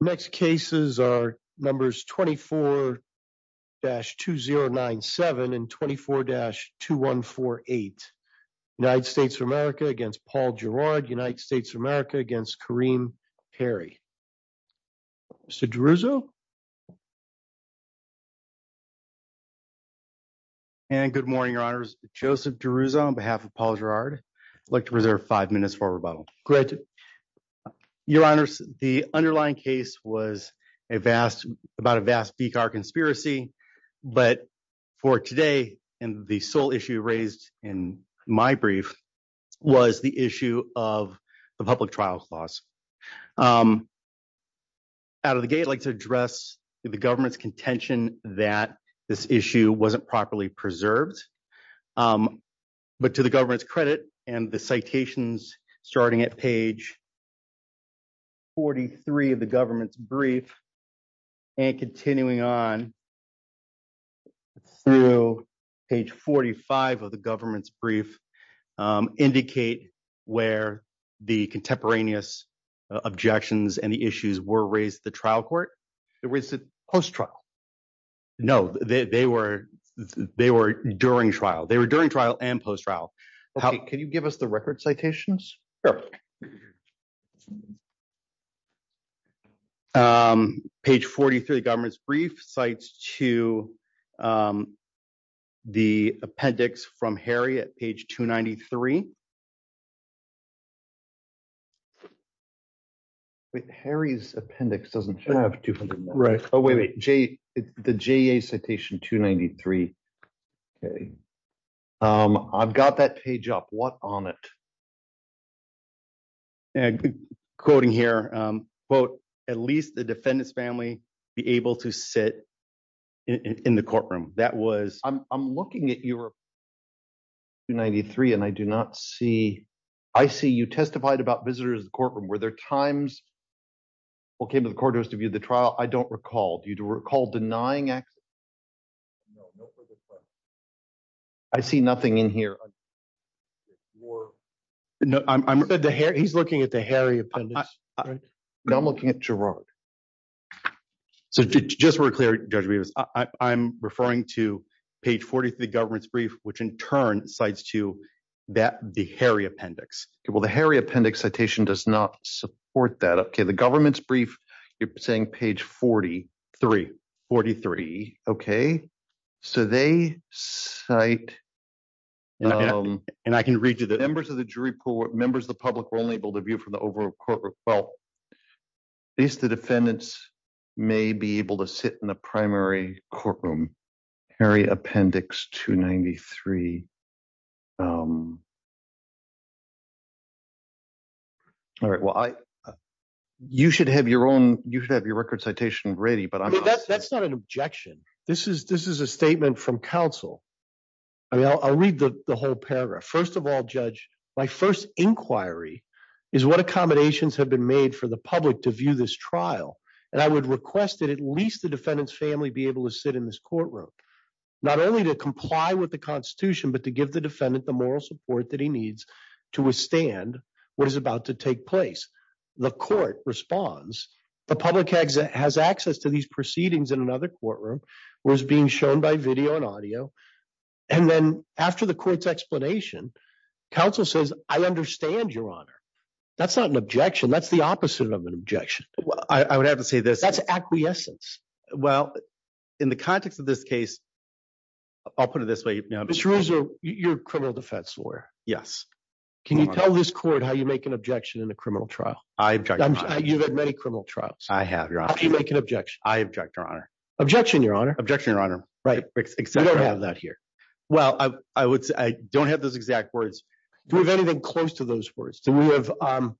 Next cases are numbers 24-2097 and 24-2148 United States of America against Paul Girard, United States of America against Kareem Harry. Mr. DeRuzo. And good morning, your honors. Joseph DeRuzo on behalf of Paul Girard. I'd like to reserve five minutes for rebuttal. Great. Your honors, the underlying case was a vast, about a vast VCAR conspiracy. But for today, and the sole issue raised in my brief was the issue of the public trials laws. Out of the gate like to address the government's contention that this issue wasn't properly preserved. But to the government's credit, and the citations starting at page 43 of the government's brief, and continuing on through page 45 of the government's brief, indicate where the contemporaneous objections and the issues were raised the trial court. There was a post trial. No, they were during trial. They were during trial and post trial. Can you give us the record citations? Page 43 of the government's brief cites to the appendix from Harry at page 293. Wait, Harry's appendix doesn't have to be right. Oh, wait, wait, Jay, the JA citation 293. Okay. I've got that page up. What on it? Quoting here, quote, at least the defendant's family be able to sit in the courtroom. That not see. I see you testified about visitors in the courtroom. Were there times what came to the courthouse to view the trial? I don't recall. Do you recall denying access? I see nothing in here. He's looking at the Harry appendix. No, I'm looking at Gerard. So just to be clear, Judge Rivas, I'm referring to page 43 of the government's brief, which in cites to that the Harry appendix. Well, the Harry appendix citation does not support that. Okay. The government's brief, you're saying page 43, 43. Okay. So they cite and I can read you the members of the jury pool, members of the public were only able to view from the overall courtroom. Well, at least the defendants may be able to sit in the primary courtroom. Harry appendix 293. Um, all right. Well, I, you should have your own, you should have your record citation ready, but that's not an objection. This is, this is a statement from counsel. I mean, I'll read the whole paragraph. First of all, judge, my first inquiry is what accommodations have been made for the public to view this trial. And I would request that at least the defendant's family be able to sit in this courtroom, not only to comply with the constitution, but to give the defendant the moral support that he needs to withstand what is about to take place. The court responds, the public exit has access to these proceedings in another courtroom was being shown by video and audio. And then after the court's explanation, counsel says, I understand your honor. That's not an objection. That's the opposite of an objection. I would have to say this. That's in the context of this case, I'll put it this way. You know, you're a criminal defense lawyer. Yes. Can you tell this court how you make an objection in a criminal trial? I object. You've had many criminal trials. I have your option. You make an objection. I object your honor. Objection. Your honor objection. Your honor. Right. We don't have that here. Well, I would say I don't have those exact words. Do we have anything close to those words? Do we have, um,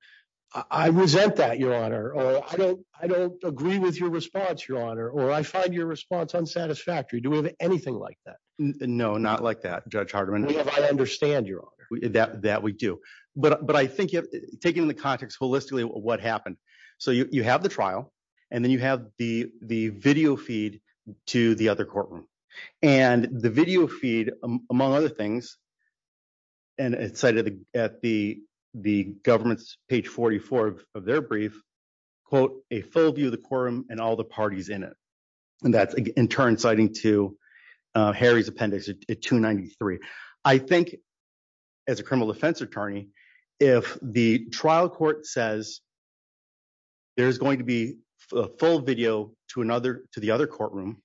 I resent that your honor, or I don't, I don't agree with your response, your honor, or I find your response unsatisfactory. Do we have anything like that? No, not like that. Judge Hardiman. I understand your honor. That, that we do, but, but I think taking the context holistically, what happened? So you have the trial and then you have the, the video feed to the other courtroom and the video quote, a full view of the quorum and all the parties in it. And that's in turn, citing to, uh, Harry's appendix at two 93. I think as a criminal defense attorney, if the trial court says there's going to be a full video to another, to the other courtroom,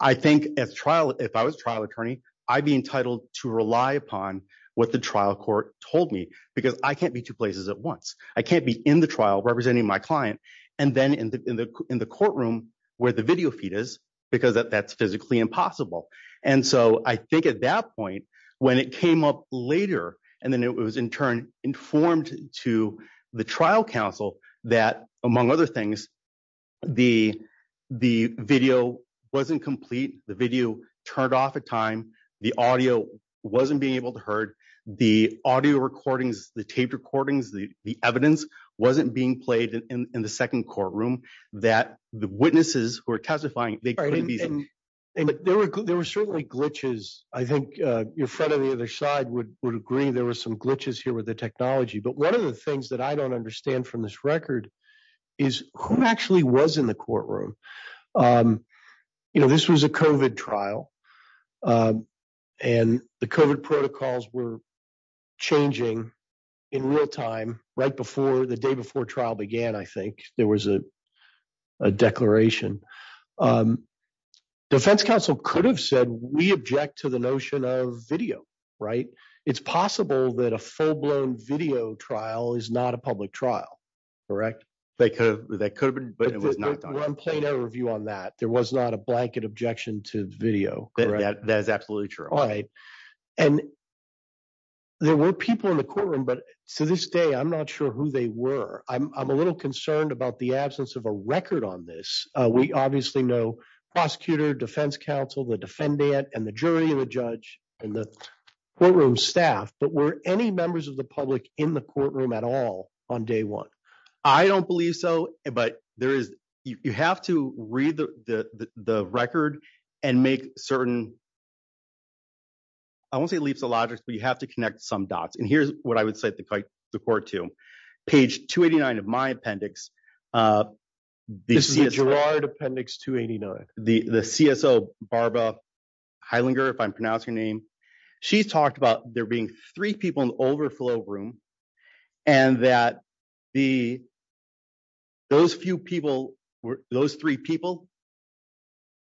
I think as trial, if I was trial attorney, I'd be entitled to rely upon what the trial court told me, because I can't be two places at once. I can't be in the trial representing my client. And then in the, in the, in the courtroom where the video feed is because that's physically impossible. And so I think at that point, when it came up later, and then it was in turn informed to the trial council that among other things, the, the video wasn't complete. The video turned off at time. The audio wasn't being able to heard the audio recordings, the tape recordings, the evidence wasn't being played in the second courtroom that the witnesses who are testifying, they couldn't be. And there were, there were certainly glitches. I think, uh, your friend on the other side would, would agree. There were some glitches here with the technology, but one of the things that I don't understand from this record is who actually was in the courtroom. Um, you know, this was a COVID trial, um, and the COVID protocols were changing in real time, right before the day before trial began. I think there was a, a declaration, um, defense council could have said, we object to the notion of video, right? It's possible that a full-blown video trial is not a public trial. Correct. That could have, that could have been, but it was not done. We're on plain objection to video. That is absolutely true. All right. And there were people in the courtroom, but to this day, I'm not sure who they were. I'm, I'm a little concerned about the absence of a record on this. Uh, we obviously know prosecutor defense council, the defendant and the jury and the judge and the courtroom staff, but were any members of the public in the courtroom at all on day one? I don't believe so, but there is, you have to read the, the, the, the record and make certain, I won't say leaps of logic, but you have to connect some dots. And here's what I would say the court to page 289 of my appendix, uh, the Gerard appendix 289, the, the CSO, Barbara Heilinger, if I'm pronouncing her name, she's talked about there being three people in the overflow room and that the, those few people were those three people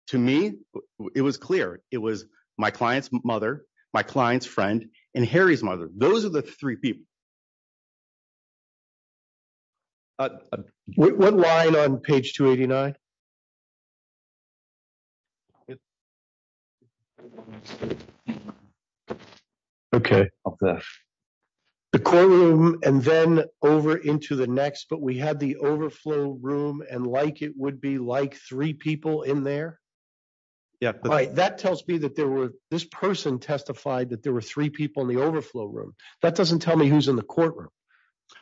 to me, it was clear. It was my client's mother, my client's friend and Harry's mother. Those are the three people. Uh, what line on page 289? Okay. The courtroom and then over into the next, but we had the overflow room and like, it would be like three people in there. Yeah. Right. That tells me that there were this person testified that there were three people in the overflow room. That doesn't tell me who's in the courtroom.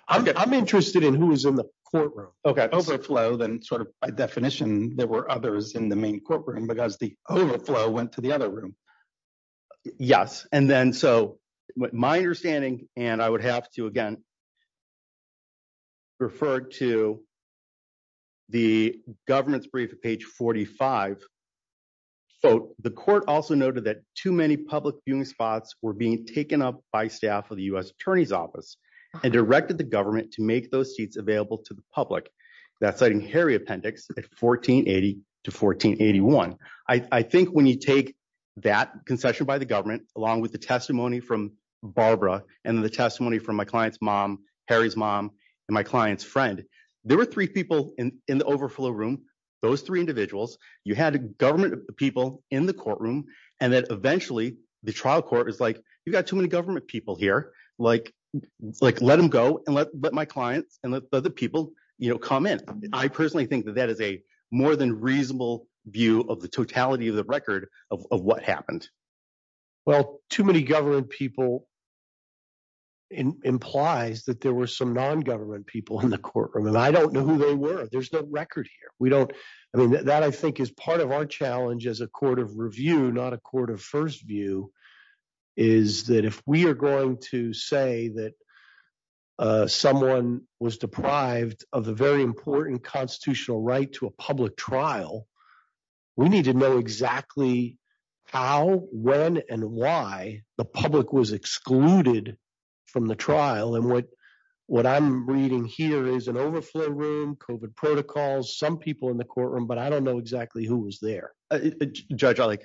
I'm interested in who was in the courtroom. Okay. Overflow then sort of by definition, there were others in the main courtroom because the overflow went to the other room. Yes. And then, so my understanding and I would have to, again, refer to the government's brief at page 45. So the court also noted that too many public spots were being taken up by staff of the U S attorney's office and directed the government to make those seats available to the public. That's citing Harry appendix at 1480 to 1481. I think when you take that concession by the government, along with the testimony from Barbara and the testimony from my client's mom, Harry's mom, and my client's friend, there were three people in the overflow room. Those three individuals, you had a government people in the courtroom. And then eventually the trial court is like, you've got too many government people here. Like, like let them go and let my clients and let the other people, you know, comment. I personally think that that is a more than reasonable view of the totality of the record of what happened. Well, too many government people implies that there were some non-government people in the courtroom and I don't know who they were. There's no record here. We don't, I mean, that I think is part of our challenge as a court of review, not a court of first view is that if we are going to say that someone was deprived of the very important constitutional right to a public trial, we need to know exactly how, when, and why the public was excluded from the trial. And what, what I'm reading here is an overflow room, COVID protocols, some people in the courtroom, but I don't know exactly who was there. Judge, I like,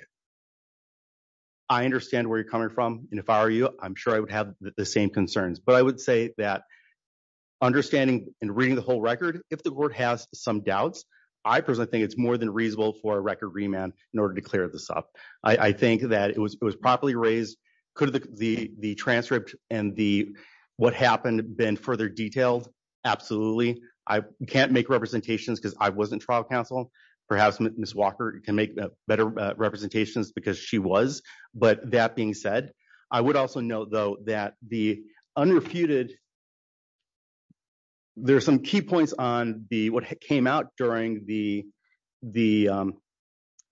I understand where you're coming from. And if I were you, I'm sure I would have the same concerns, but I would say that understanding and reading the whole record, if the board has some doubts, I personally think it's more than reasonable for a record remand in order to clear this up. I think that it was, it was properly raised. Could the, the, the transcript and the, what happened then further detailed? Absolutely. I can't make representations because I wasn't trial counsel. Perhaps Ms. Walker can make better representations because she was, but that being said, I would also note though, that the unrefuted, there are some key points on the, what came out during the, the,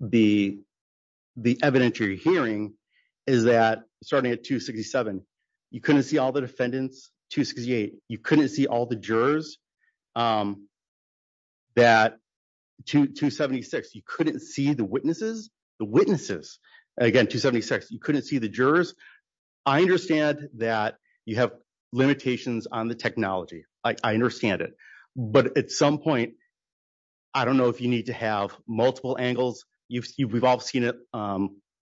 the, the evidentiary hearing is that starting at two 67, you couldn't see all the defendants to 68. You couldn't see all the jurors that two, two 76, you couldn't see the witnesses, the witnesses again, two 76, you couldn't see the jurors. I understand that you have limitations on the technology. I understand it, but at some point, I don't know if you need to have multiple angles. You've, you've, we've all seen it. I'm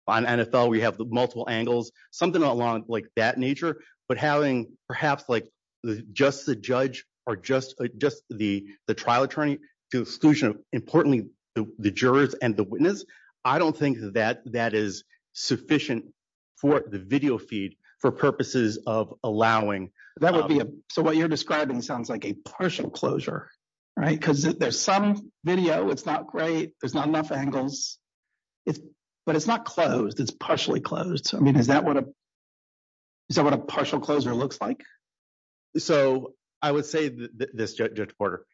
NFL. We have the multiple angles, something along like that nature, but having perhaps like the, just the judge or just, just the, the trial attorney to exclusion of importantly, the jurors and the witness. I don't think that that is sufficient for the video feed for purposes of allowing that would be. So what you're describing sounds like a partial closure, right? Cause there's some video. It's not great. There's not enough angles, but it's not closed. It's partially closed. I mean, is that what a, is that what a partial closure looks like? So I would say that this judge Porter,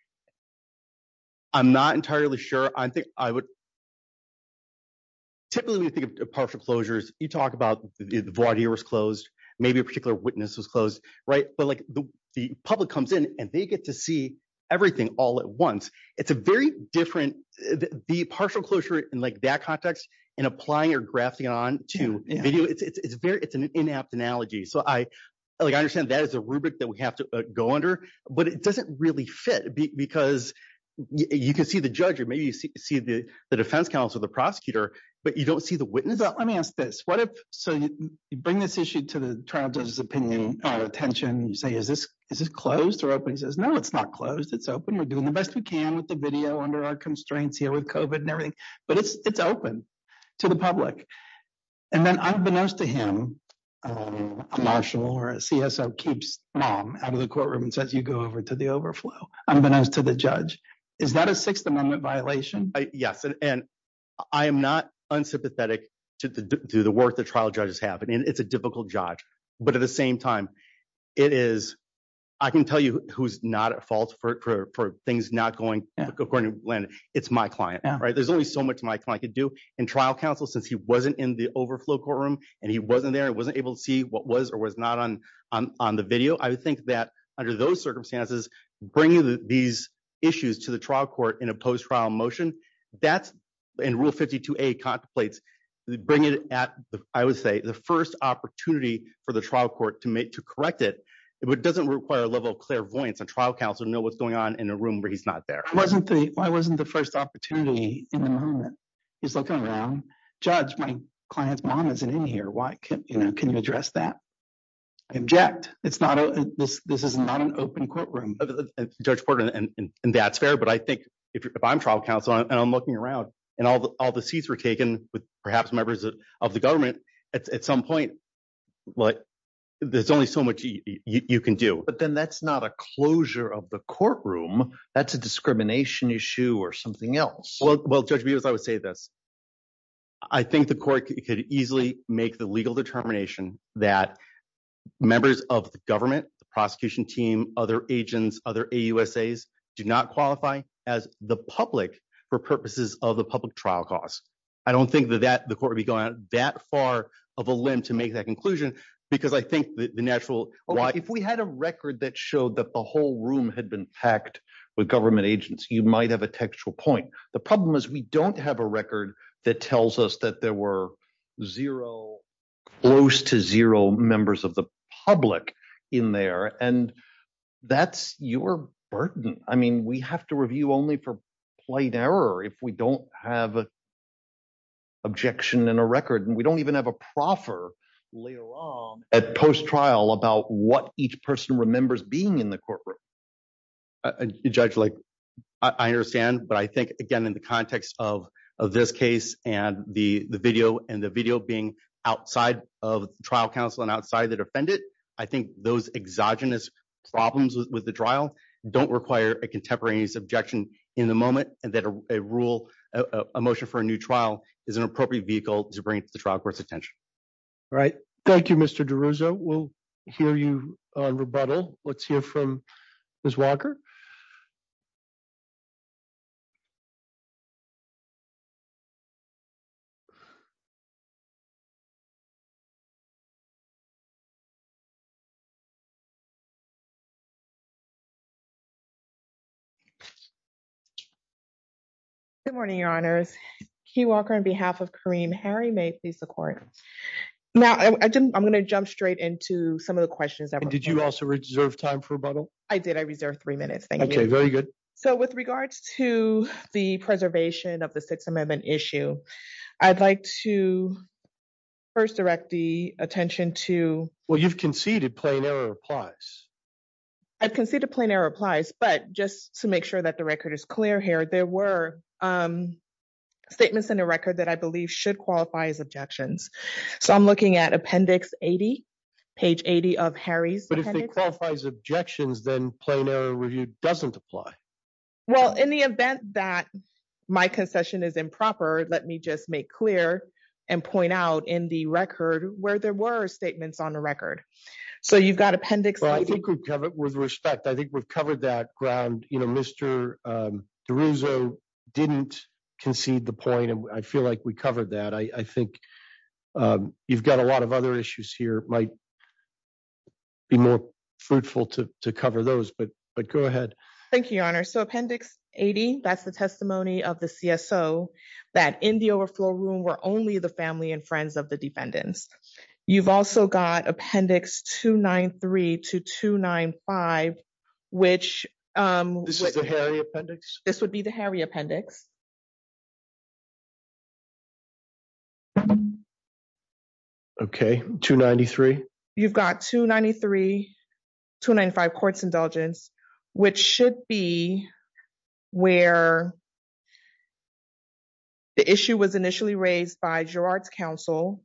I'm not entirely sure. I think I would. Typically when you think of partial closures, you talk about the variety was closed. Maybe a particular witness was closed, right? But like the public comes in and they get to see everything all at once. It's a very different, the partial closure in like that context and applying or grafting on to video. It's, it's, it's very, it's an inapt analogy. So I like, I understand that as a rubric that we have to go under, but it doesn't really fit because you can see the judge or maybe you see, see the defense counsel, the prosecutor, but you don't see the witness. Let me ask this. What if, so you bring this issue to the trial judge's opinion or attention and you say, is this, is this closed or open? He says, no, it's not closed. It's open. We're doing the best we can with the video under our constraints here with COVID and everything, but it's, it's open to the public. And then unbeknownst to him, a marshal or a CSO keeps mom out of the courtroom and says, you go over to the overflow. Unbeknownst to the judge, is that a sixth amendment violation? Yes. And I am not unsympathetic to the, to the work that trial judges have, and it's a difficult judge, but at the same time, it is, I can tell you who's not at fault for, for things not going according to Glenn. It's my client, right? There's only so much my client could do in trial counsel, since he wasn't in the overflow courtroom and he wasn't there and wasn't able to see what was or was not on, on, on the video. I would think that under those circumstances, bringing these issues to the trial court in a post-trial motion, that's in rule 52A contemplates, bring it at, I would say the first opportunity for the trial court to make, to correct it. It doesn't require a level of clairvoyance and trial counsel to know what's going on in a room where he's not there. Wasn't the, why wasn't the first opportunity in the moment? He's looking around, judge, my client's mom isn't in here. Why can't you know, this is not an open courtroom. Judge Porter, and that's fair, but I think if I'm trial counsel and I'm looking around and all the, all the seats were taken with perhaps members of the government at some point, like there's only so much you can do. But then that's not a closure of the courtroom. That's a discrimination issue or something else. Well, judge, because I would say this, I think the court could easily make the legal determination that members of the government, the prosecution team, other agents, other AUSAs do not qualify as the public for purposes of the public trial costs. I don't think that the court would be going that far of a limb to make that conclusion because I think the natural, if we had a record that showed that the whole room had been packed with government agents, you might have a textual point. The problem is we don't have a tells us that there were zero, close to zero members of the public in there. And that's your burden. I mean, we have to review only for plight error if we don't have an objection in a record, and we don't even have a proffer later on at post-trial about what each person remembers being in the courtroom. Judge, I understand, but I think, again, in the context of this case and the video and the video being outside of trial counsel and outside the defendant, I think those exogenous problems with the trial don't require a contemporaneous objection in the moment and that a rule, a motion for a new trial is an appropriate vehicle to bring to the trial court's attention. All right. Thank you, Mr. DeRuzzo. We'll hear you on rebuttal. Let's hear from Ms. Walker. Good morning, Your Honors. Keith Walker on behalf of Kareem. Harry, may it please the court. Now, I'm going to jump straight into some of the questions. And did you also reserve time for rebuttal? I did. I reserved three minutes. Thank you. Okay. Very good. So, with regards to the preservation of the Sixth Amendment issue, I'd like to first direct the attention to... Well, you've conceded plain error applies. I've conceded plain error applies, but just to make sure that the record is clear here, there were statements in the record that I believe should qualify as objections. So, I'm looking at appendix 80, page 80 of Harry's appendix. Objections, then plain error review doesn't apply. Well, in the event that my concession is improper, let me just make clear and point out in the record where there were statements on the record. So, you've got appendix... Well, I think we've covered it with respect. I think we've covered that ground. Mr. DeRuzzo didn't concede the point, and I feel like we covered that. I think you've got a lot of other issues here. It might be more fruitful to cover those, but go ahead. Thank you, Your Honor. So, appendix 80, that's the testimony of the CSO that in the overflow room were only the family and friends of the defendants. You've also got appendix 293 to 295, which... This is the Harry appendix? This would be the Harry appendix. Okay, 293. You've got 293, 295, courts indulgence, which should be where the issue was initially raised by Gerard's counsel,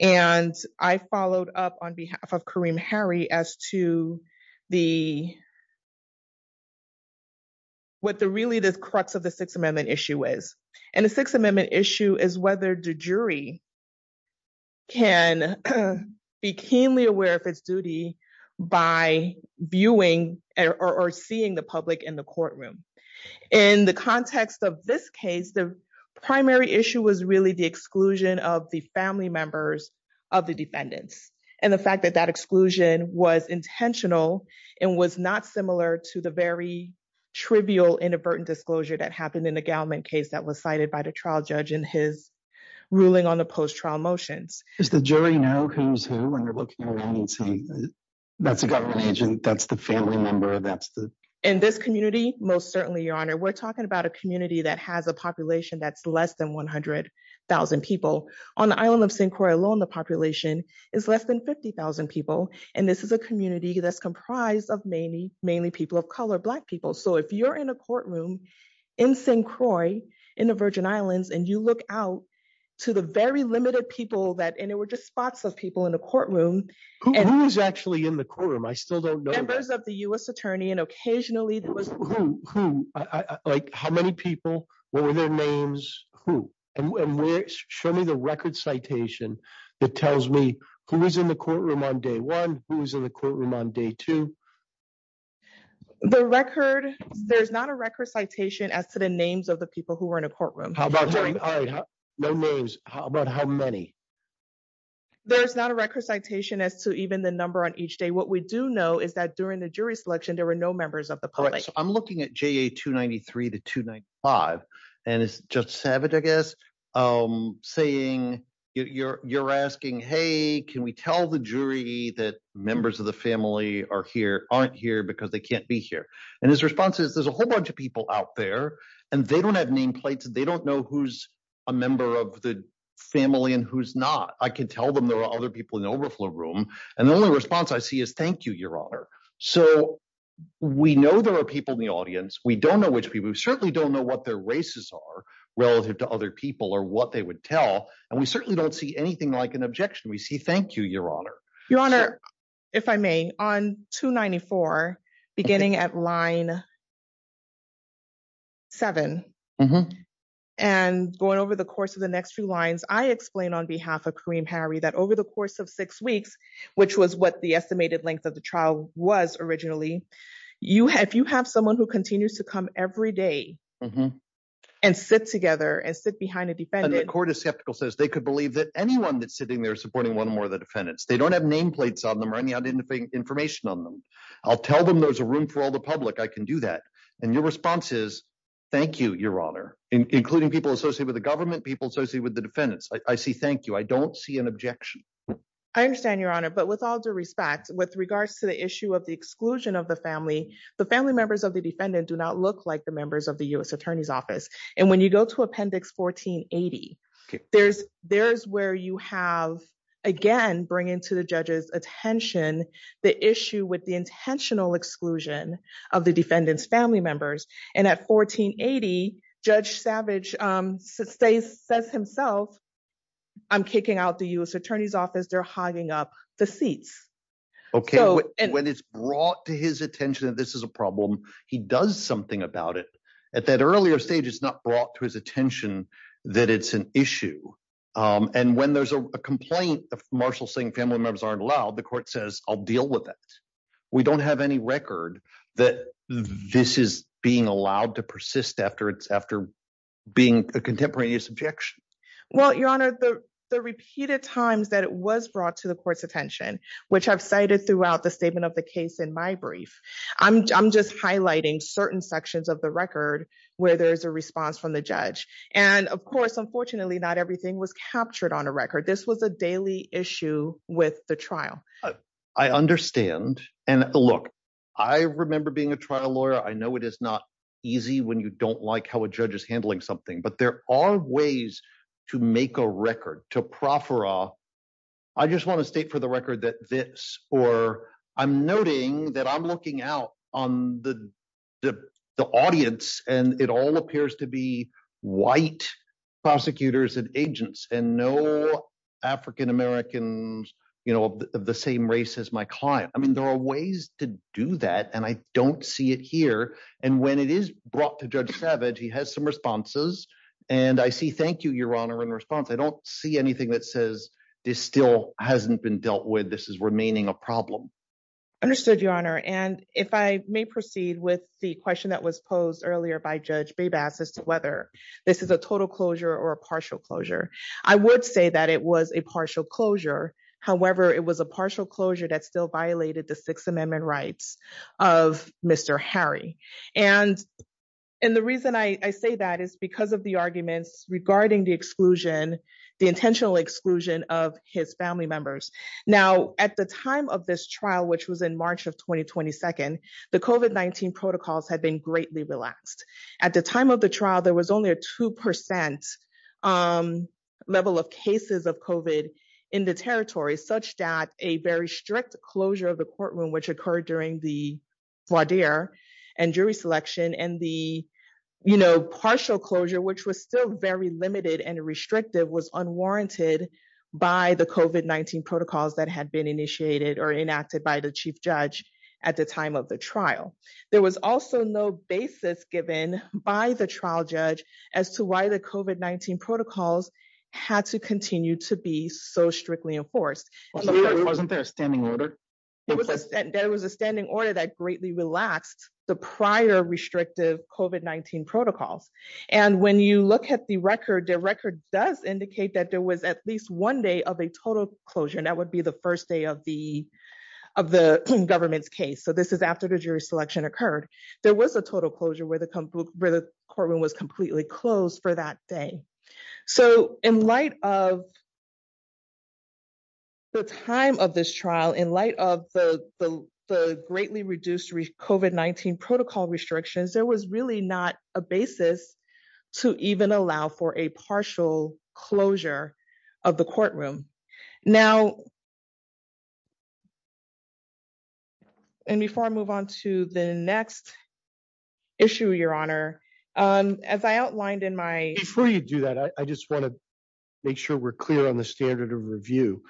and I followed up on behalf of Kareem Harry as to the... What the really the crux of the Sixth Amendment is, and the Sixth Amendment issue is whether the jury can be keenly aware of its duty by viewing or seeing the public in the courtroom. In the context of this case, the primary issue was really the exclusion of the family members of the defendants, and the fact that that exclusion was intentional and was not similar to the very trivial inadvertent disclosure that happened in the Gallman case that was cited by the trial judge in his ruling on the post-trial motions. Does the jury know who's who when they're looking around and saying, that's a government agent, that's the family member, that's the... In this community, most certainly, Your Honor. We're talking about a community that has a population that's less than 100,000 people. On the island of St. Croix alone, the population is less than 50,000 people, and this is a community that's comprised of mainly people of color, Black people. If you're in a courtroom in St. Croix, in the Virgin Islands, and you look out to the very limited people that... And they were just spots of people in the courtroom. Who is actually in the courtroom? I still don't know that. Members of the US Attorney, and occasionally there was... Who? Who? How many people? What were their names? Who? Show me the record citation that tells me who was in the courtroom on day one, who was in the courtroom on day two. The record... There's not a record citation as to the names of the people who were in a courtroom. How about during... All right, no names. How about how many? There's not a record citation as to even the number on each day. What we do know is that during the jury selection, there were no members of the public. I'm looking at JA 293 to 295, and it's Judge Savage, I guess, saying... You're asking, hey, can we tell the jury that members of the family are here, aren't here because they can't be here? And his response is, there's a whole bunch of people out there, and they don't have nameplates. They don't know who's a member of the family and who's not. I can tell them there are other people in the overflow room. And the only response I see is, thank you, Your Honor. So we know there are people in the audience. We don't know which people. We certainly don't know what their races are to other people or what they would tell. And we certainly don't see anything like an objection. We see, thank you, Your Honor. Your Honor, if I may, on 294, beginning at line seven, and going over the course of the next few lines, I explained on behalf of Kareem Harry that over the course of six weeks, which was what the estimated length of the trial was originally, if you have someone who continues to come every day and sit together and sit behind a defendant— And the court is skeptical, says they could believe that anyone that's sitting there is supporting one or more of the defendants. They don't have nameplates on them or any other information on them. I'll tell them there's a room for all the public. I can do that. And your response is, thank you, Your Honor, including people associated with the government, people associated with the defendants. I see thank you. I don't see an objection. I understand, Your Honor. But with all due respect, with regards to the issue of the exclusion of the family, the family members of the defendant do not look like the members of the U.S. Attorney's Office. And when you go to Appendix 1480, there's where you have, again, bringing to the judge's attention the issue with the intentional exclusion of the defendant's family members. And at 1480, Judge Savage says himself, I'm kicking out the U.S. Attorney's Office. They're hogging up the seats. When it's brought to his attention that this is a problem, he does something about it. At that earlier stage, it's not brought to his attention that it's an issue. And when there's a complaint, Marshall saying family members aren't allowed, the court says, I'll deal with it. We don't have any record that this is being allowed to persist after being a contemporaneous objection. Well, Your Honor, the repeated times that it was brought to the court's attention, which I've cited throughout the statement of the case in my brief, I'm just highlighting certain sections of the record where there's a response from the judge. And of course, unfortunately, not everything was captured on a record. This was a daily issue with the trial. I understand. And look, I remember being a trial lawyer. I know it is not easy when you don't like how a judge is handling something, but there are ways to make a record, to proffer. I just want to state for the record that this or I'm noting that I'm looking out on the audience and it all appears to be white prosecutors and agents and no African-Americans of the same race as my client. I mean, there are ways to do that. And I don't see it here. And when it is brought to Judge Savage, he has some responses. And I see, thank you, Your Honor, in response. I don't see anything that says this still hasn't been dealt with. This is remaining a problem. Understood, Your Honor. And if I may proceed with the question that was posed earlier by Judge Babas as to whether this is a total closure or a partial closure, I would say that it was a partial closure. However, it was a partial closure that still violated the Sixth Amendment rights of Mr. Harry. And the reason I say that is because of the arguments regarding the exclusion, the intentional exclusion of his family members. Now, at the time of this trial, which was in March of 2022, the COVID-19 protocols had been greatly relaxed. At the time of the trial, there was only a 2% level of cases of COVID in the territory, such that a very strict closure of the courtroom, which occurred during the voir dire and jury selection, and the partial closure, which was still very limited and restrictive, was unwarranted by the COVID-19 protocols that had been initiated or enacted by the chief judge at the time of the trial. There was also no basis given by the trial judge as to why the COVID-19 protocols had to continue to be so strictly enforced. There was a standing order that greatly relaxed the prior restrictive COVID-19 protocols. And when you look at the record, the record does indicate that there was at least one day of a total closure, and that would be the first day of the government's case. So this is after the courtroom was completely closed for that day. So in light of the time of this trial, in light of the greatly reduced COVID-19 protocol restrictions, there was really not a basis to even allow for a partial closure of the courtroom. Now, before I move on to the next issue, Your Honor, as I outlined in my- Before you do that, I just want to make sure we're clear on the standard of review.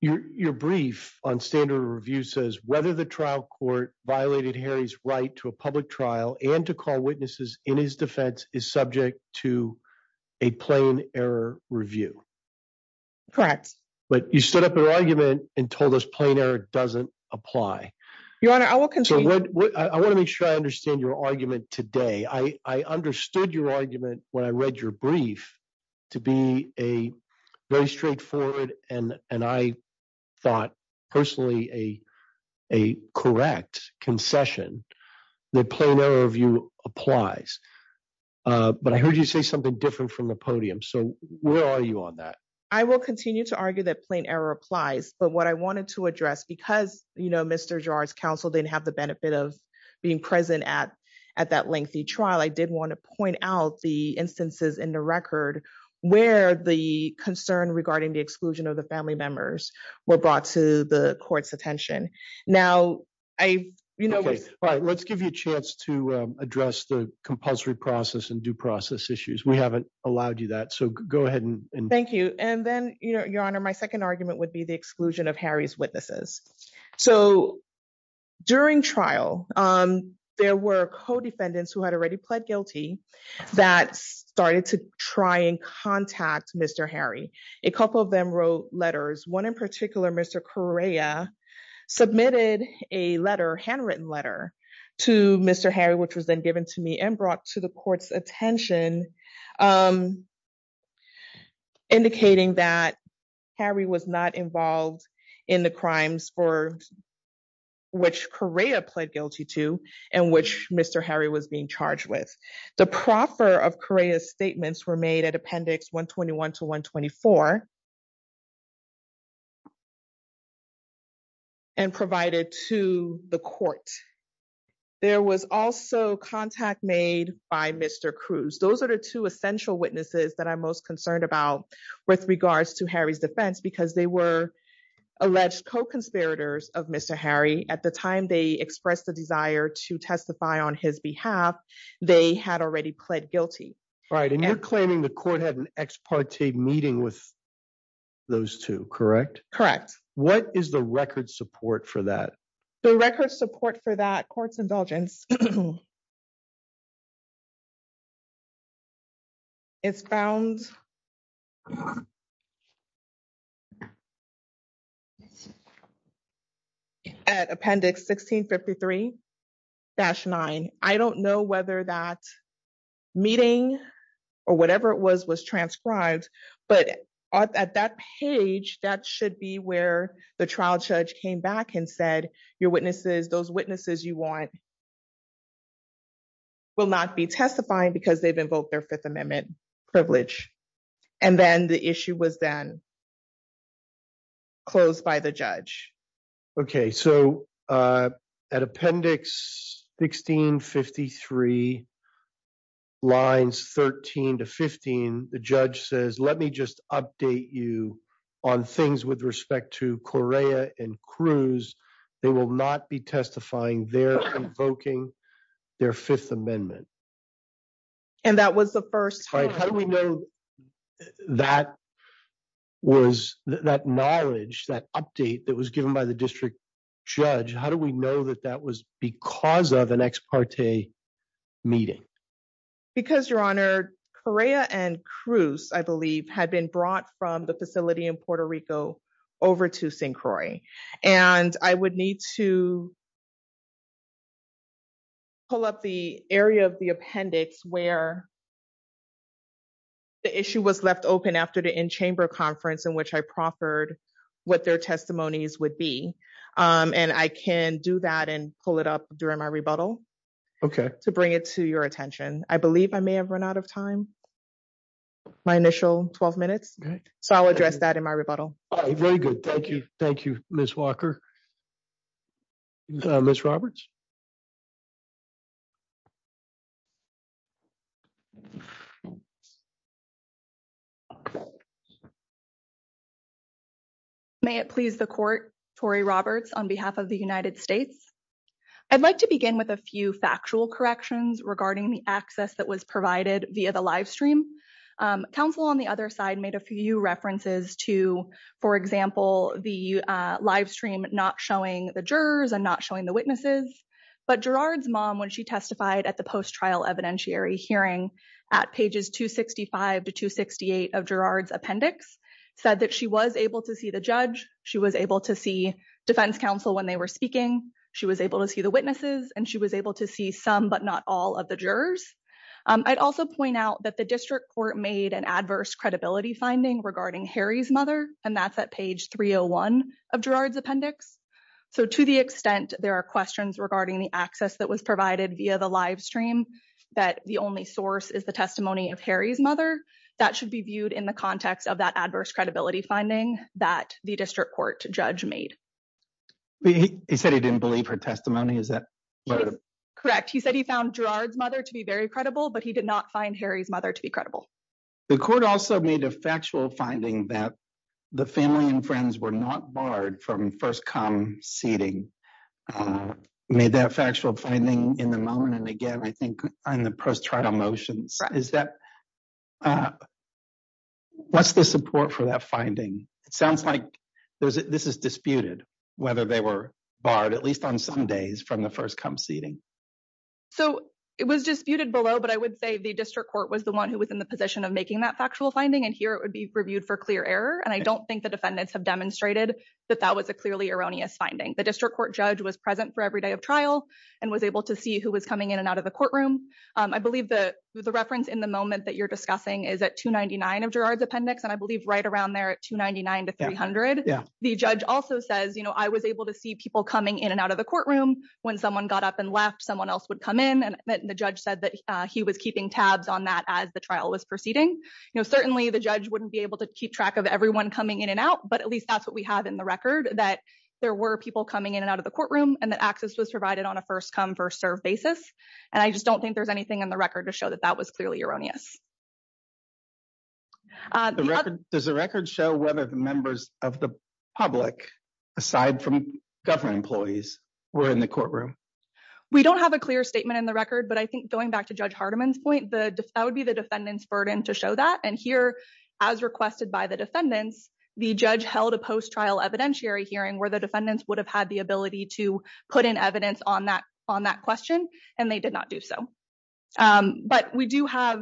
Your brief on standard review says, whether the trial court violated Harry's right to a public review. Correct. But you stood up an argument and told us plain error doesn't apply. Your Honor, I will continue- I want to make sure I understand your argument today. I understood your argument when I read your brief to be a very straightforward, and I thought personally, a correct concession that plain error of you applies. But I heard you say something different from the podium. So where are you on that? I will continue to argue that plain error applies. But what I wanted to address, because Mr. Giroir's counsel didn't have the benefit of being present at that lengthy trial, I did want to point out the instances in the record where the concern regarding the exclusion of the family members were brought to the court's attention. Now, I- Let's give you a chance to address the compulsory process and due process issues. We haven't allowed you that. So go ahead and- Thank you. And then, Your Honor, my second argument would be the exclusion of Harry's witnesses. So during trial, there were co-defendants who had already pled guilty that started to try and contact Mr. Harry. A couple of them wrote letters. One in particular, Mr. Correa submitted a letter, handwritten letter, to Mr. Harry, which was then given to me and brought to the court's attention, indicating that Harry was not involved in the crimes for which Correa pled guilty to and which Mr. Harry was being charged with. The proffer of Correa's statements were made at Appendix 121 to 124 and provided to the court. There was also contact made by Mr. Cruz. Those are the two essential witnesses that I'm most concerned about with regards to Harry's defense because they were alleged co-conspirators of Mr. Harry. At the time they expressed the desire to testify on his behalf, they had already pled guilty. Right. And you're claiming the court had an ex parte meeting with those two, correct? Correct. What is the record support for that? The record support for that court's indulgence is found at Appendix 1653-9. I don't know whether that meeting or whatever it was was transcribed but at that page that should be where the trial judge came back and said your witnesses, those witnesses you want will not be testifying because they've invoked their Fifth Amendment privilege. And then the issue was then closed by the judge. Okay, so at Appendix 1653 lines 13 to 15 the judge says let me just update you on things with respect to Correa and Cruz. They will not be testifying. They're invoking their Fifth Amendment. And that was the first time. How do we know that was that knowledge, that update that was given by the district judge? How do we know that that was because of an ex parte meeting? Because, Your Honor, Correa and Cruz, I believe, had been brought from the facility in Puerto Rico over to St. Croix. And I would need to pull up the area of the appendix where the issue was left open after the in-chamber conference in which I proffered what their testimonies would be. And I can do that and pull it up during my rebuttal to bring it to your attention. I believe I may have run out of time, my initial 12 minutes, so I'll address that in my rebuttal. All right, very good. Thank you. Thank you, Ms. Walker. Ms. Roberts? May it please the Court, Tory Roberts, on behalf of the United States. I'd like to begin with a few factual corrections regarding the access that was provided via the live stream. Council on the other side made a few references to, for example, the live stream not showing the jurors and not showing the witnesses. But Gerard's mom, when she testified at the post-trial evidentiary hearing at pages 265 to 268 of Gerard's appendix, said that she was able to see the judge, she was able to see defense counsel when they were speaking, she was able to see the witnesses, and she was able to see some but not all of the jurors. I'd also point out that the district court made an adverse credibility finding regarding Harry's mother, and that's at page 301 of Gerard's appendix. So to the extent there are questions regarding the access that was provided via the live stream, that the only source is the testimony of Harry's mother, that should be viewed in the context of that adverse credibility finding that the district court judge made. He said he didn't believe her testimony, is that correct? Correct. He said he found Gerard's mother to be very credible, but he did not find Harry's mother to be credible. The court also made a factual finding that the family and friends were not barred from first come seating. Made that factual finding in the moment, and again, I think on the post-trial motions. What's the support for that finding? It sounds like this is disputed, whether they were barred, at least on some days, from the first come seating. It was disputed below, but I would say the district court was the one who was in the position of making that factual finding, and here it would be reviewed for clear error, and I don't think the defendants have demonstrated that that was a clearly erroneous finding. The district court judge was present for every day of trial and was able to see who was coming in and out of the courtroom. I believe the reference in the moment that you're discussing is at 299 of Gerard's appendix, and I believe right around there at 299 to 300. The judge also says, I was able to see people coming in and out of the courtroom. When someone got up and left, someone else would come in, and the judge said that he was keeping tabs on that as the trial was proceeding. Certainly, the judge wouldn't be able to keep track of everyone coming in and out, but at least that's what we have in the record, that there were people coming in and out of the courtroom, and that access was provided on a first come first serve basis, and I just don't think there's anything in the record to show that that was of the public, aside from government employees, were in the courtroom. We don't have a clear statement in the record, but I think going back to Judge Hardiman's point, that would be the defendant's burden to show that, and here, as requested by the defendants, the judge held a post-trial evidentiary hearing where the defendants would have had the ability to put in evidence on that question, and they did not do so, but what we do have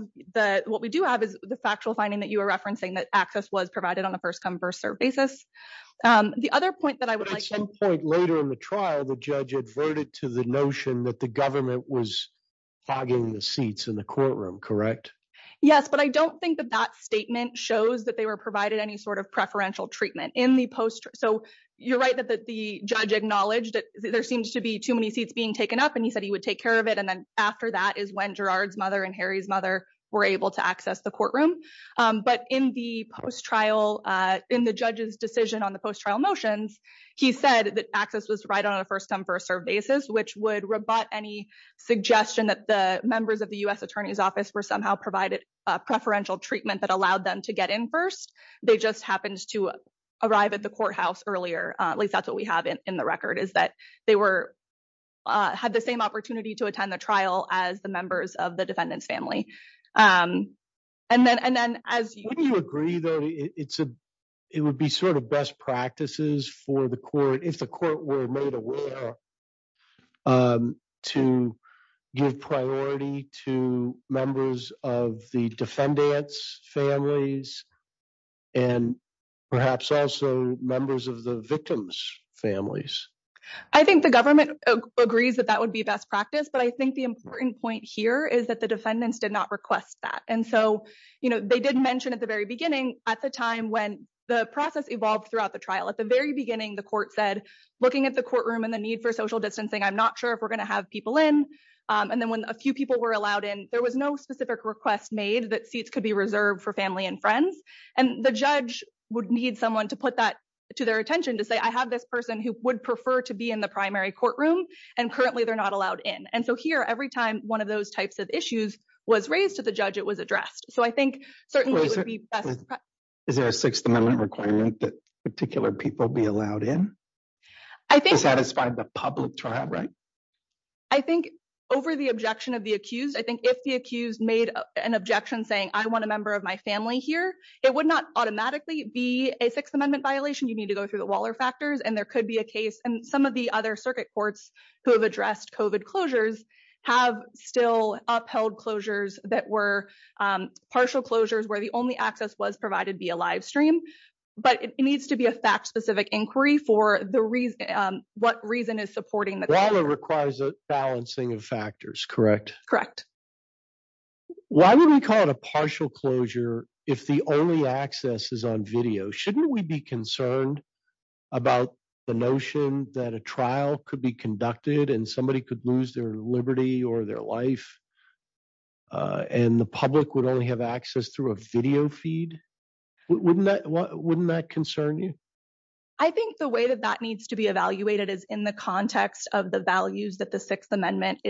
is the factual finding that you were referencing, that access was provided on a first come first serve basis. The other point that I would like to- At some point later in the trial, the judge adverted to the notion that the government was fogging the seats in the courtroom, correct? Yes, but I don't think that that statement shows that they were provided any sort of preferential treatment. You're right that the judge acknowledged that there seems to be too many seats being taken up, and he said he would take care of it, and then after that is when Gerard's mother and Harry's mother were able to access the courtroom, but in the judge's decision on the post-trial motions, he said that access was provided on a first come first serve basis, which would rebut any suggestion that the members of the U.S. Attorney's Office were somehow provided preferential treatment that allowed them to get in first. They just happened to arrive at the courthouse earlier, at least that's what we have in the record, is that they had the same opportunity to attend the trial as the members of the defendant's family. Wouldn't you agree, though, it would be sort of best practices for the court, if the court were made aware, to give priority to members of the defendant's families and perhaps also members of the victim's families? I think the government agrees that that would be best practice, but I think the important point here is that the defendants did not request that, and so, you know, they did mention at the very beginning, at the time when the process evolved throughout the trial, at the very beginning, the court said, looking at the courtroom and the need for social distancing, I'm not sure if we're going to have people in, and then when a few people were allowed in, there was no specific request made that seats could be reserved for family and friends, and the judge would need someone to put that to their attention, to say, I have this person who would prefer to be in the primary courtroom, and currently they're not allowed in, and so here, every time one of those types of issues was raised to the judge, it was addressed, so I think certainly it would be best. Is there a Sixth Amendment requirement that particular people be allowed in to satisfy the public trial, right? I think over the objection of the accused, I think it would not automatically be a Sixth Amendment violation. You need to go through the Waller factors, and there could be a case, and some of the other circuit courts who have addressed COVID closures have still upheld closures that were partial closures, where the only access was provided via live stream, but it needs to be a fact-specific inquiry for the reason, what reason is supporting the... Waller requires a balancing of factors, correct? Correct. Why would we call it a partial closure if the only access is on video? Shouldn't we be concerned about the notion that a trial could be conducted, and somebody could lose their liberty or their life, and the public would only have access through a video feed? Wouldn't that concern you? I think the way that that needs to be evaluated is in the context of the values that the Sixth Amendment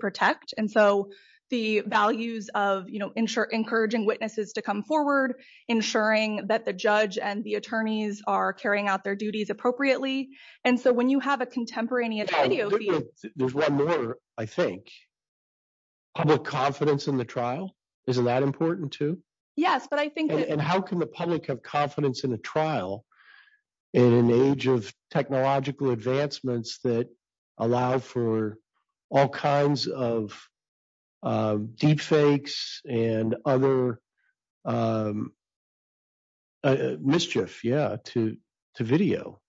provides, so the values of encouraging witnesses to come forward, ensuring that the judge and the attorneys are carrying out their duties appropriately, and so when you have a contemporaneous video feed... There's one more, I think. Public confidence in the trial, isn't that important too? Yes, but I think... And how can the public have confidence in a trial in an age of technological advancements that allow for all kinds of deepfakes and other mischief, yeah, to video?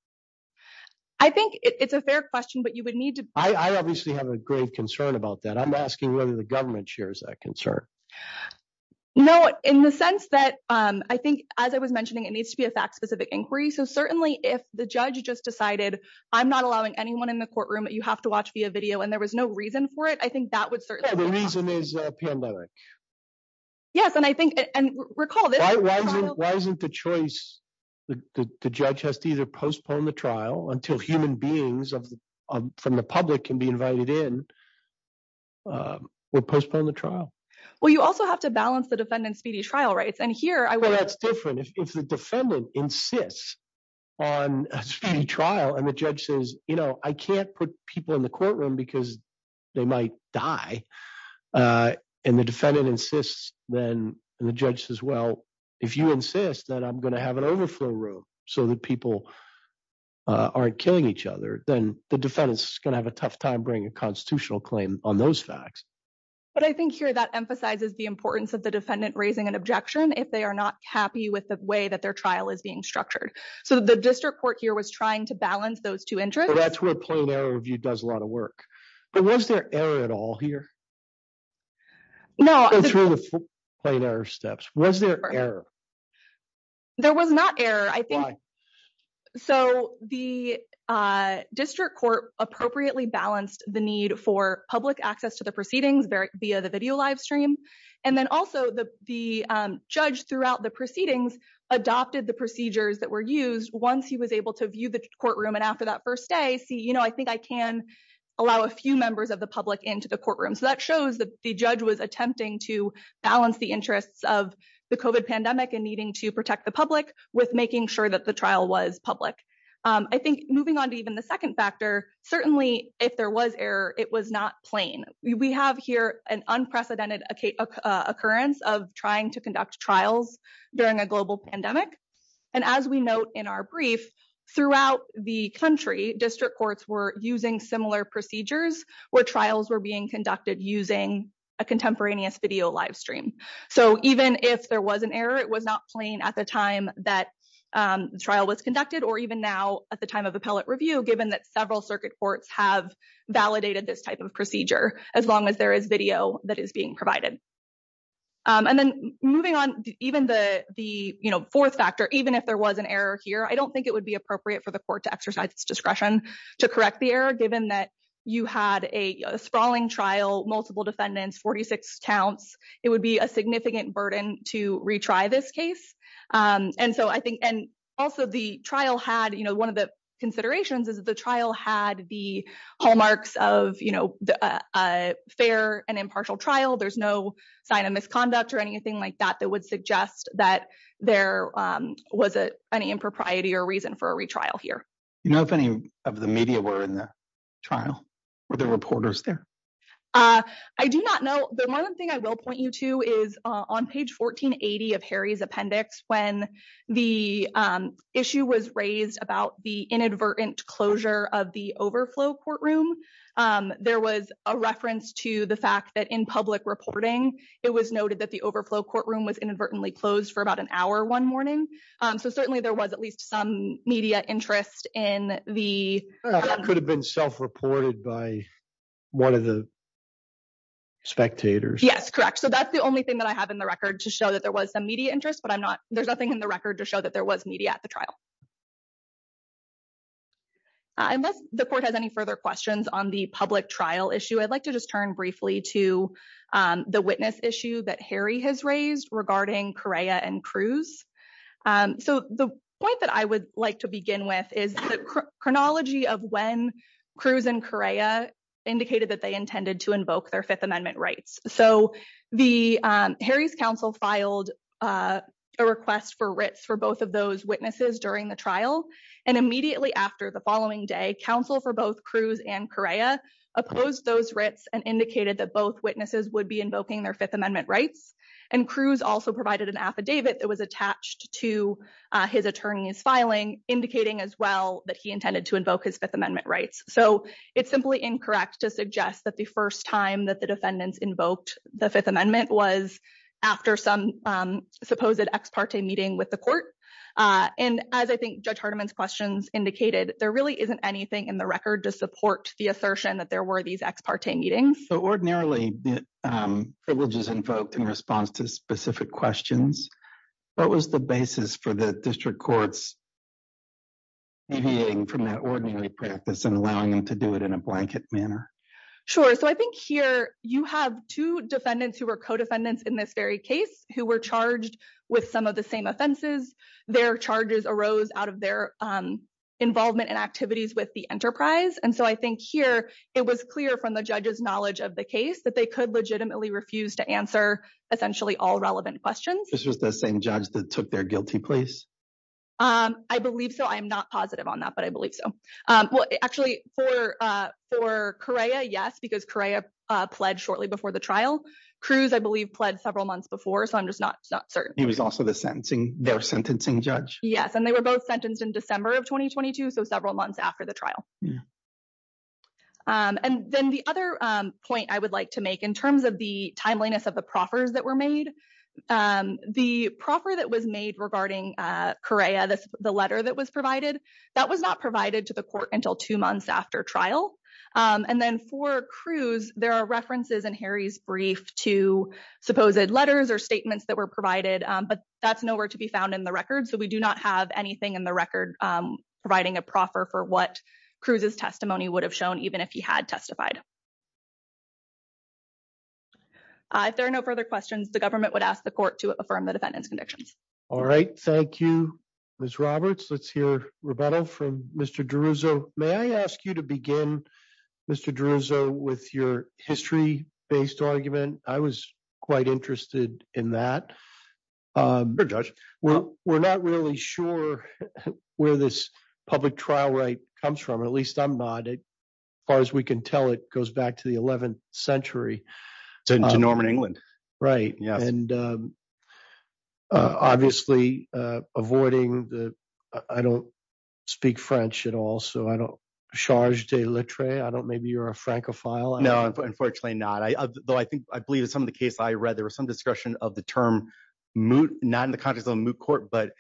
I think it's a fair question, but you would need to... I obviously have a grave concern about that. I'm asking whether the government shares that concern. No, in the sense that I think, as I was mentioning, it needs to be a fact-specific inquiry, so certainly if the judge just decided, I'm not allowing anyone in the courtroom, you have to watch via video, and there was no reason for it, I think that would certainly... The reason is a pandemic. Yes, and I think... And recall this... Why isn't the choice... The judge has to either postpone the trial until human beings from the public can be invited in, or postpone the trial? Well, you also have to balance the defendant's speedy trial rights, and here I would... The judge says, I can't put people in the courtroom because they might die, and the defendant insists, then the judge says, well, if you insist that I'm gonna have an overflow room so that people aren't killing each other, then the defendant's gonna have a tough time bringing a constitutional claim on those facts. But I think here that emphasizes the importance of the defendant raising an objection if they are not happy with the way that their is being structured. So the district court here was trying to balance those two interests. That's where a plain error review does a lot of work, but was there error at all here? No... And through the plain error steps, was there error? There was not error, I think... Why? So the district court appropriately balanced the need for public access to the proceedings via the video live stream, and then the judge, throughout the proceedings, adopted the procedures that were used once he was able to view the courtroom. And after that first day, see, I think I can allow a few members of the public into the courtroom. So that shows that the judge was attempting to balance the interests of the COVID pandemic and needing to protect the public with making sure that the trial was public. I think moving on to even the second factor, certainly if there was error, it was not plain. We have here an unprecedented occurrence of trying to conduct trials during a global pandemic. And as we note in our brief, throughout the country, district courts were using similar procedures where trials were being conducted using a contemporaneous video live stream. So even if there was an error, it was not plain at the time that the trial was conducted or even now at the time of appellate review, given that several circuit courts have validated this procedure as long as there is video that is being provided. And then moving on, even the fourth factor, even if there was an error here, I don't think it would be appropriate for the court to exercise its discretion to correct the error, given that you had a sprawling trial, multiple defendants, 46 counts. It would be a significant burden to retry this case. And also the trial had, one of the considerations is that the trial had the hallmarks of a fair and impartial trial. There's no sign of misconduct or anything like that that would suggest that there was any impropriety or reason for a retrial here. Do you know if any of the media were in the trial? Were there reporters there? I do not know. The one thing I will point you to is on page 1480 of Harry's appendix, when the issue was raised about the inadvertent closure of the overflow courtroom, there was a reference to the fact that in public reporting, it was noted that the overflow courtroom was inadvertently closed for about an hour one morning. So certainly there was at least some media interest in the... That could have been self-reported by one of the spectators. Yes, correct. So that's the only thing that I have in the record to show that was some media interest, but I'm not... There's nothing in the record to show that there was media at the trial. Unless the court has any further questions on the public trial issue, I'd like to just turn briefly to the witness issue that Harry has raised regarding Correa and Cruz. So the point that I would like to begin with is the chronology of when Cruz and Correa indicated that they intended to invoke their Fifth Amendment rights. So Harry's counsel filed a request for writs for both of those witnesses during the trial. And immediately after, the following day, counsel for both Cruz and Correa opposed those writs and indicated that both witnesses would be invoking their Fifth Amendment rights. And Cruz also provided an affidavit that was attached to his attorney's filing, indicating as well that he intended to invoke his Fifth Amendment rights. So it's simply incorrect to suggest that the first time that the defendants invoked the Fifth Amendment was after some supposed ex parte meeting with the court. And as I think Judge Hardiman's questions indicated, there really isn't anything in the record to support the assertion that there were these ex parte meetings. So ordinarily, privileges invoked in response to specific questions, what was the basis for the district courts deviating from that ordinary practice and allowing them to do it in a blanket manner? Sure. So I think here you have two defendants who were co-defendants in this very case who were charged with some of the same offenses. Their charges arose out of their involvement and activities with the enterprise. And so I think here it was clear from the judge's knowledge of the case that they could legitimately refuse to answer essentially all relevant questions. This was the same judge that took their guilty place? I believe so. I am not positive on that, but I believe so. Well, actually, for Correa, yes, because Correa pled shortly before the trial. Cruz, I believe, pled several months before, so I'm just not certain. He was also their sentencing judge? Yes. And they were both sentenced in December of 2022, so several months after the trial. And then the other point I would like to make in terms of the timeliness of the proffers that were made, the proffer that was made regarding Correa, the letter that was provided, that was not provided to the court until two months after trial. And then for Cruz, there are references in Harry's brief to supposed letters or statements that were provided, but that's nowhere to be found in the record. So we do not have anything in the record providing a proffer for what Cruz's testimony would have shown even if he had testified. If there are no further questions, the government would ask the court to affirm the defendant's convictions. All right. Thank you, Ms. Roberts. Let's hear rebuttal from Mr. D'Aruzzo. May I ask you to begin, Mr. D'Aruzzo, with your history-based argument? I was quite interested in that. We're not really sure where this public trial right comes from. At least I'm not. As far as we can tell, it goes back to the 11th century. To Norman England. Right. And obviously, avoiding the—I don't speak French at all, so I don't—Charles de Letray, maybe you're a Francophile. No, unfortunately not. Though I believe in some of the cases I read, there was some discussion of the term moot, not in the context of a moot court, but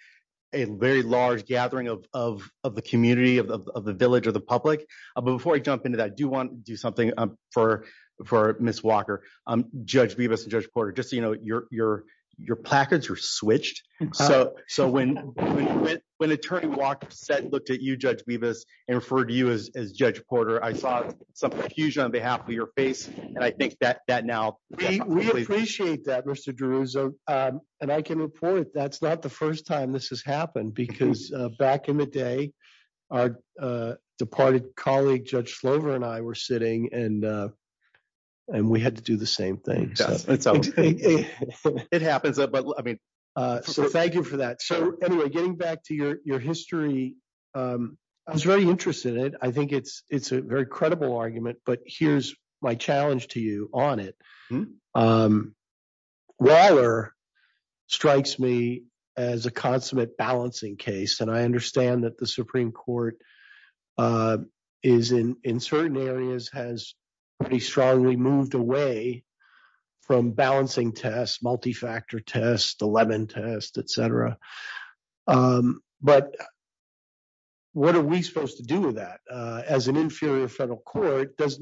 a very large gathering of the community, of the village, of the public. But before I jump into that, I do want to do something for Ms. Walker. Judge Beavis and Judge Porter, just so you know, your placards are switched. So when Attorney Walker looked at you, Judge Beavis, and referred to you as Judge Porter, I saw some confusion on behalf of your face. And I think that now— We appreciate that, Mr. D'Aruzzo. And I can report that's not the first time this has happened, because back in the day, our departed colleague, Judge Slover, and I were sitting and we had to do the same thing. It happens. So thank you for that. So anyway, getting back to your history, I was very interested in it. I think it's a very credible argument, but here's my challenge to you on it. Waller strikes me as a consummate balancing case. And I understand that the Supreme Court in certain areas has pretty strongly moved away from balancing tests, multi-factor tests, the Levin test, etc. But what are we supposed to do with that? As an inferior federal court, does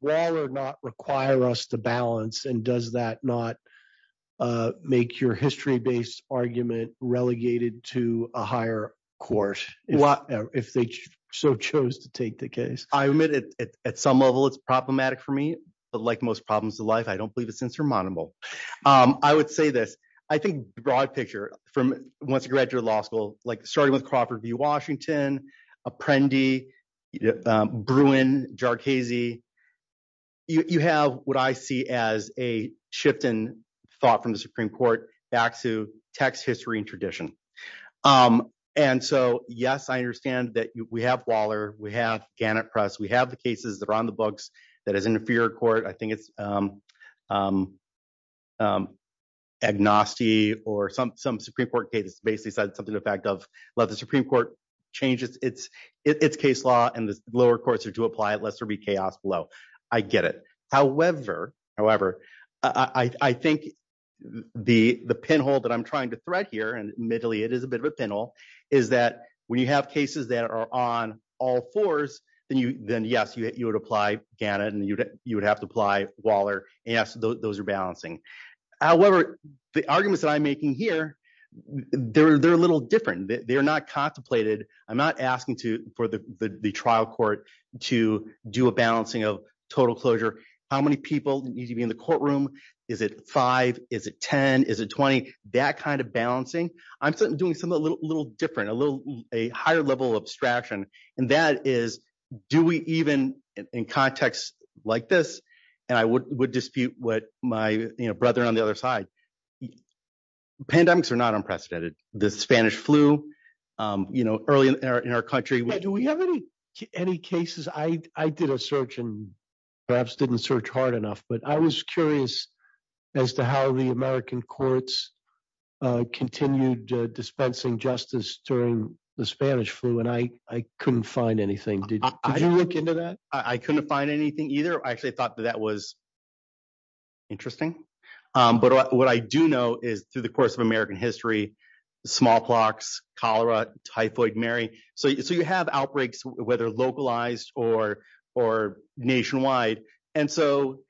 Waller not require us to balance? And does that not make your history-based argument relegated to a higher court if they so chose to take the case? I admit, at some level, it's problematic for me, but like most problems in life, I don't believe it's insurmountable. I would say this. I think the broad picture from once you graduate law school, like starting with Crawford v. Washington, Apprendi, Bruin, Jarchese, you have what I see as a shift in thought from the Supreme Court back to text, history, and tradition. And so yes, I understand that we have Waller, we have Gannett Press, we have the cases that are on the books that as an inferior court, I think it's Agnosti or some Supreme Court case basically said something to the effect of, let the Supreme Court change its case law and the lower courts are to apply it, lest there be chaos below. I get it. However, I think the pinhole that I'm trying to thread here, and admittedly, it is a bit of a pinhole, is that when you have cases that are on all fours, then yes, you would apply Gannett and you would have to apply Waller. Yes, those are balancing. However, the arguments that I'm making here, they're a little different. They're not contemplated. I'm not asking for the trial court to do a balancing of total closure. How many people need to be in the courtroom? Is it five? Is it 10? Is it 20? That kind of balancing. I'm doing something a little different, a higher level of abstraction. And that is, do we even in contexts like this, and I would dispute what my brother on the other side, pandemics are not unprecedented. The Spanish flu early in our country. Do we have any cases? I did a search and perhaps didn't search hard enough, but I was curious as to how the American courts continued dispensing justice during the Spanish flu. And I couldn't find anything. Did you look into that? I couldn't find anything either. I actually thought that that was interesting. But what I do know is through the course of American history, smallpox, cholera, typhoid, Mary. So you have outbreaks, whether localized or nationwide. And so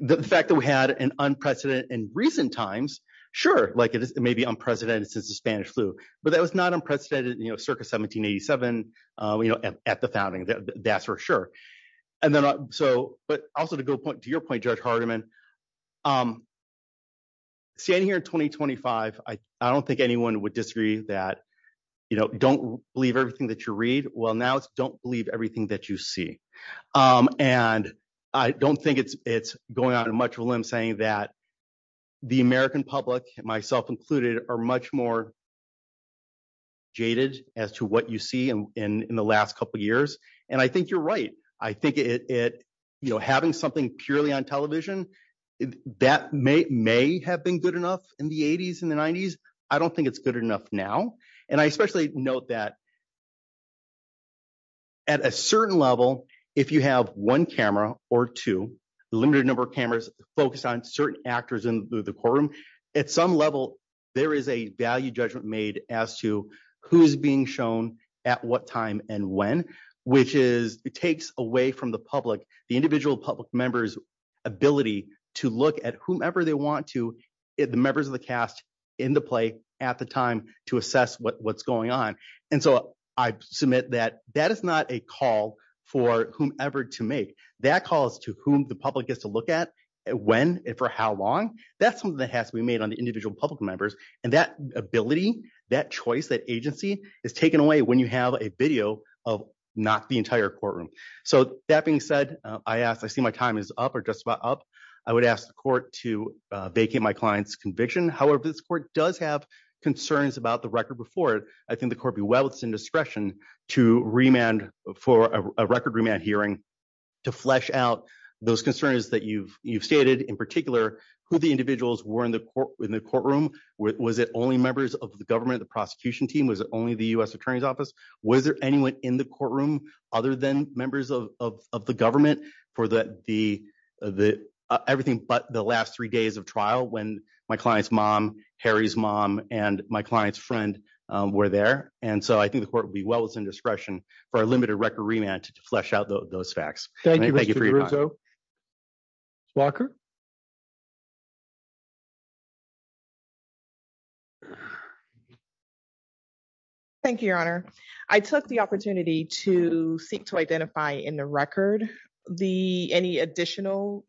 the fact that we had an unprecedented in recent times, sure, like it may be unprecedented since the Spanish flu, but that was not unprecedented, circa 1787 at the founding. That's for sure. But also to go to your point, Judge Hardiman, standing here in 2025, I don't think anyone would disagree that, don't believe everything that you read. Well, now it's don't believe everything that you see. And I don't think it's going out much of a limb saying that the American public, myself included, are much more jaded as to what you see in the last couple of years. And I think you're right. I think having something purely on television, that may have been good enough in the 80s and the 90s. I don't think it's good enough now. And I especially note that at a certain level, if you have one camera or two, limited number of cameras focused on certain actors in the courtroom, at some level, there is a value judgment made as to who's being shown at what time and when, which is, it takes away from the public, the individual public members ability to look at whomever they want to, the members of the cast in the play at the time to submit that that is not a call for whomever to make that calls to whom the public gets to look at when and for how long that's something that has to be made on the individual public members. And that ability, that choice, that agency is taken away when you have a video of not the entire courtroom. So that being said, I asked, I see my time is up or just about up. I would ask the court to vacate my client's conviction. However, this court does have concerns about the record before it. I think the court be well, it's indiscretion to remand for a record remand hearing to flesh out those concerns that you've, you've stated in particular who the individuals were in the court, in the courtroom. Was it only members of the government, the prosecution team? Was it only the U S attorney's office? Was there anyone in the courtroom other than members of, of, of the government for the, the, the everything, but the last three days of trial, when my client's mom, Harry's mom and my client's friend were there. And so I think the court would be well, it's indiscretion for a limited record remand to flesh out those facts. Thank you, your honor. I took the opportunity to seek to identify in the record the, any additional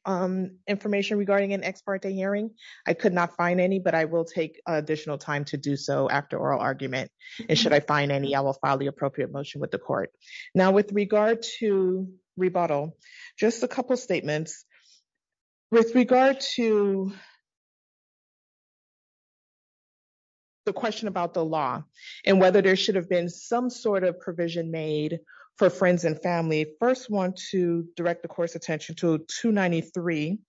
information regarding an ex parte hearing. I could not find any, but I will take additional time to do so after oral argument. And should I find any, I will file the appropriate motion with the court now with regard to rebuttal, just a couple of statements with regard to. The question about the law and whether there should have been some sort of provision made for friends and family first one to direct the court's attention to two 93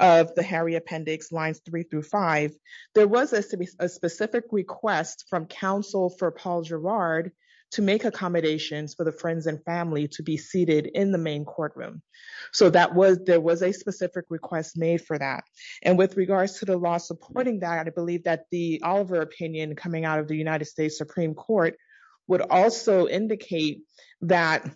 of the Harry appendix lines three through five, there was a specific request from counsel for Paul Girard to make accommodations for the friends and family to be seated in the main courtroom. So that was, there was a specific request made for that. And with regards to the law supporting that, I believe that the Oliver opinion coming out of the United States Supreme court would also indicate that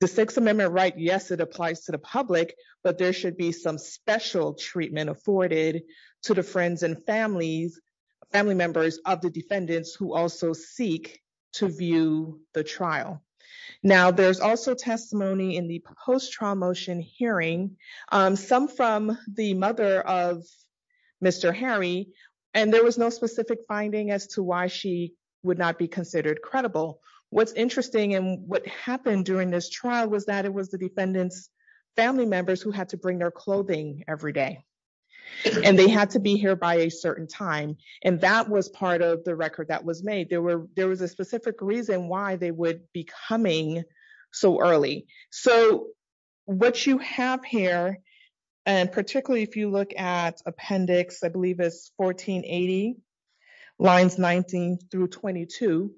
the sixth amendment, right? Yes, it applies to the public, but there should be some special treatment afforded to the friends and families, family members of the defendants who also seek to view the trial. Now there's also testimony in the post trial motion hearing some from the mother of Mr. Harry, and there was no specific finding as to why she would not be considered credible. What's interesting. And what happened during this trial was that it was the defendants, family members who had to bring their clothing every day and they had to be here by a certain time. And that was part of the record that was made. There were, there was a specific reason why they would be coming so early. So what you have here, and particularly if you look at appendix, I believe it's 1480 lines 19 through 22,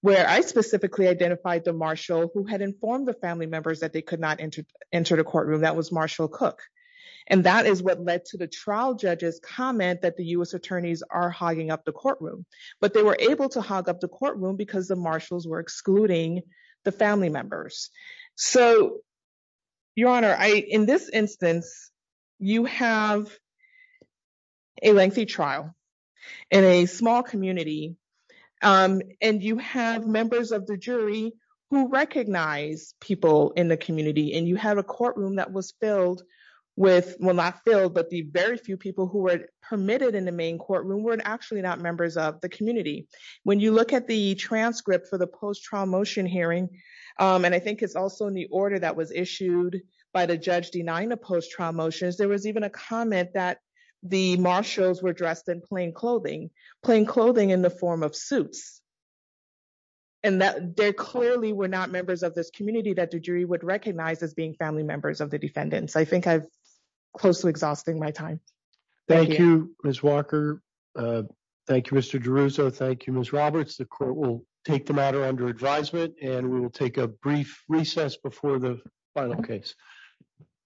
where I specifically identified the Marshall who had informed the family members that they could not enter, enter the courtroom that was Marshall cook. And that is what led to the trial judges comment that the U S attorneys are hogging up the courtroom, but they were able to hog up the courtroom because the marshals were excluding the family members. So your honor, I, in this instance, you have a lengthy trial in a small community. And you have members of the jury who recognize people in the community and you have a courtroom that was filled with, well, not filled, but the very few people who were permitted in the main courtroom were actually not members of the community. When you look at the transcript for the post trial motion hearing. And I think it's also in the order that was issued by the judge denying the post trial motions. There was even a comment that the marshals were dressed in plain clothing, plain clothing in the form of suits. And that they're clearly, we're not members of this community that the jury would recognize as being family members of the defendants. I think I've close to exhausting my time. Thank you, Ms. Walker. Thank you, Mr. Jerusalem. Thank you, Ms. Roberts. The court will take the under advisement and we will take a brief recess before the final case.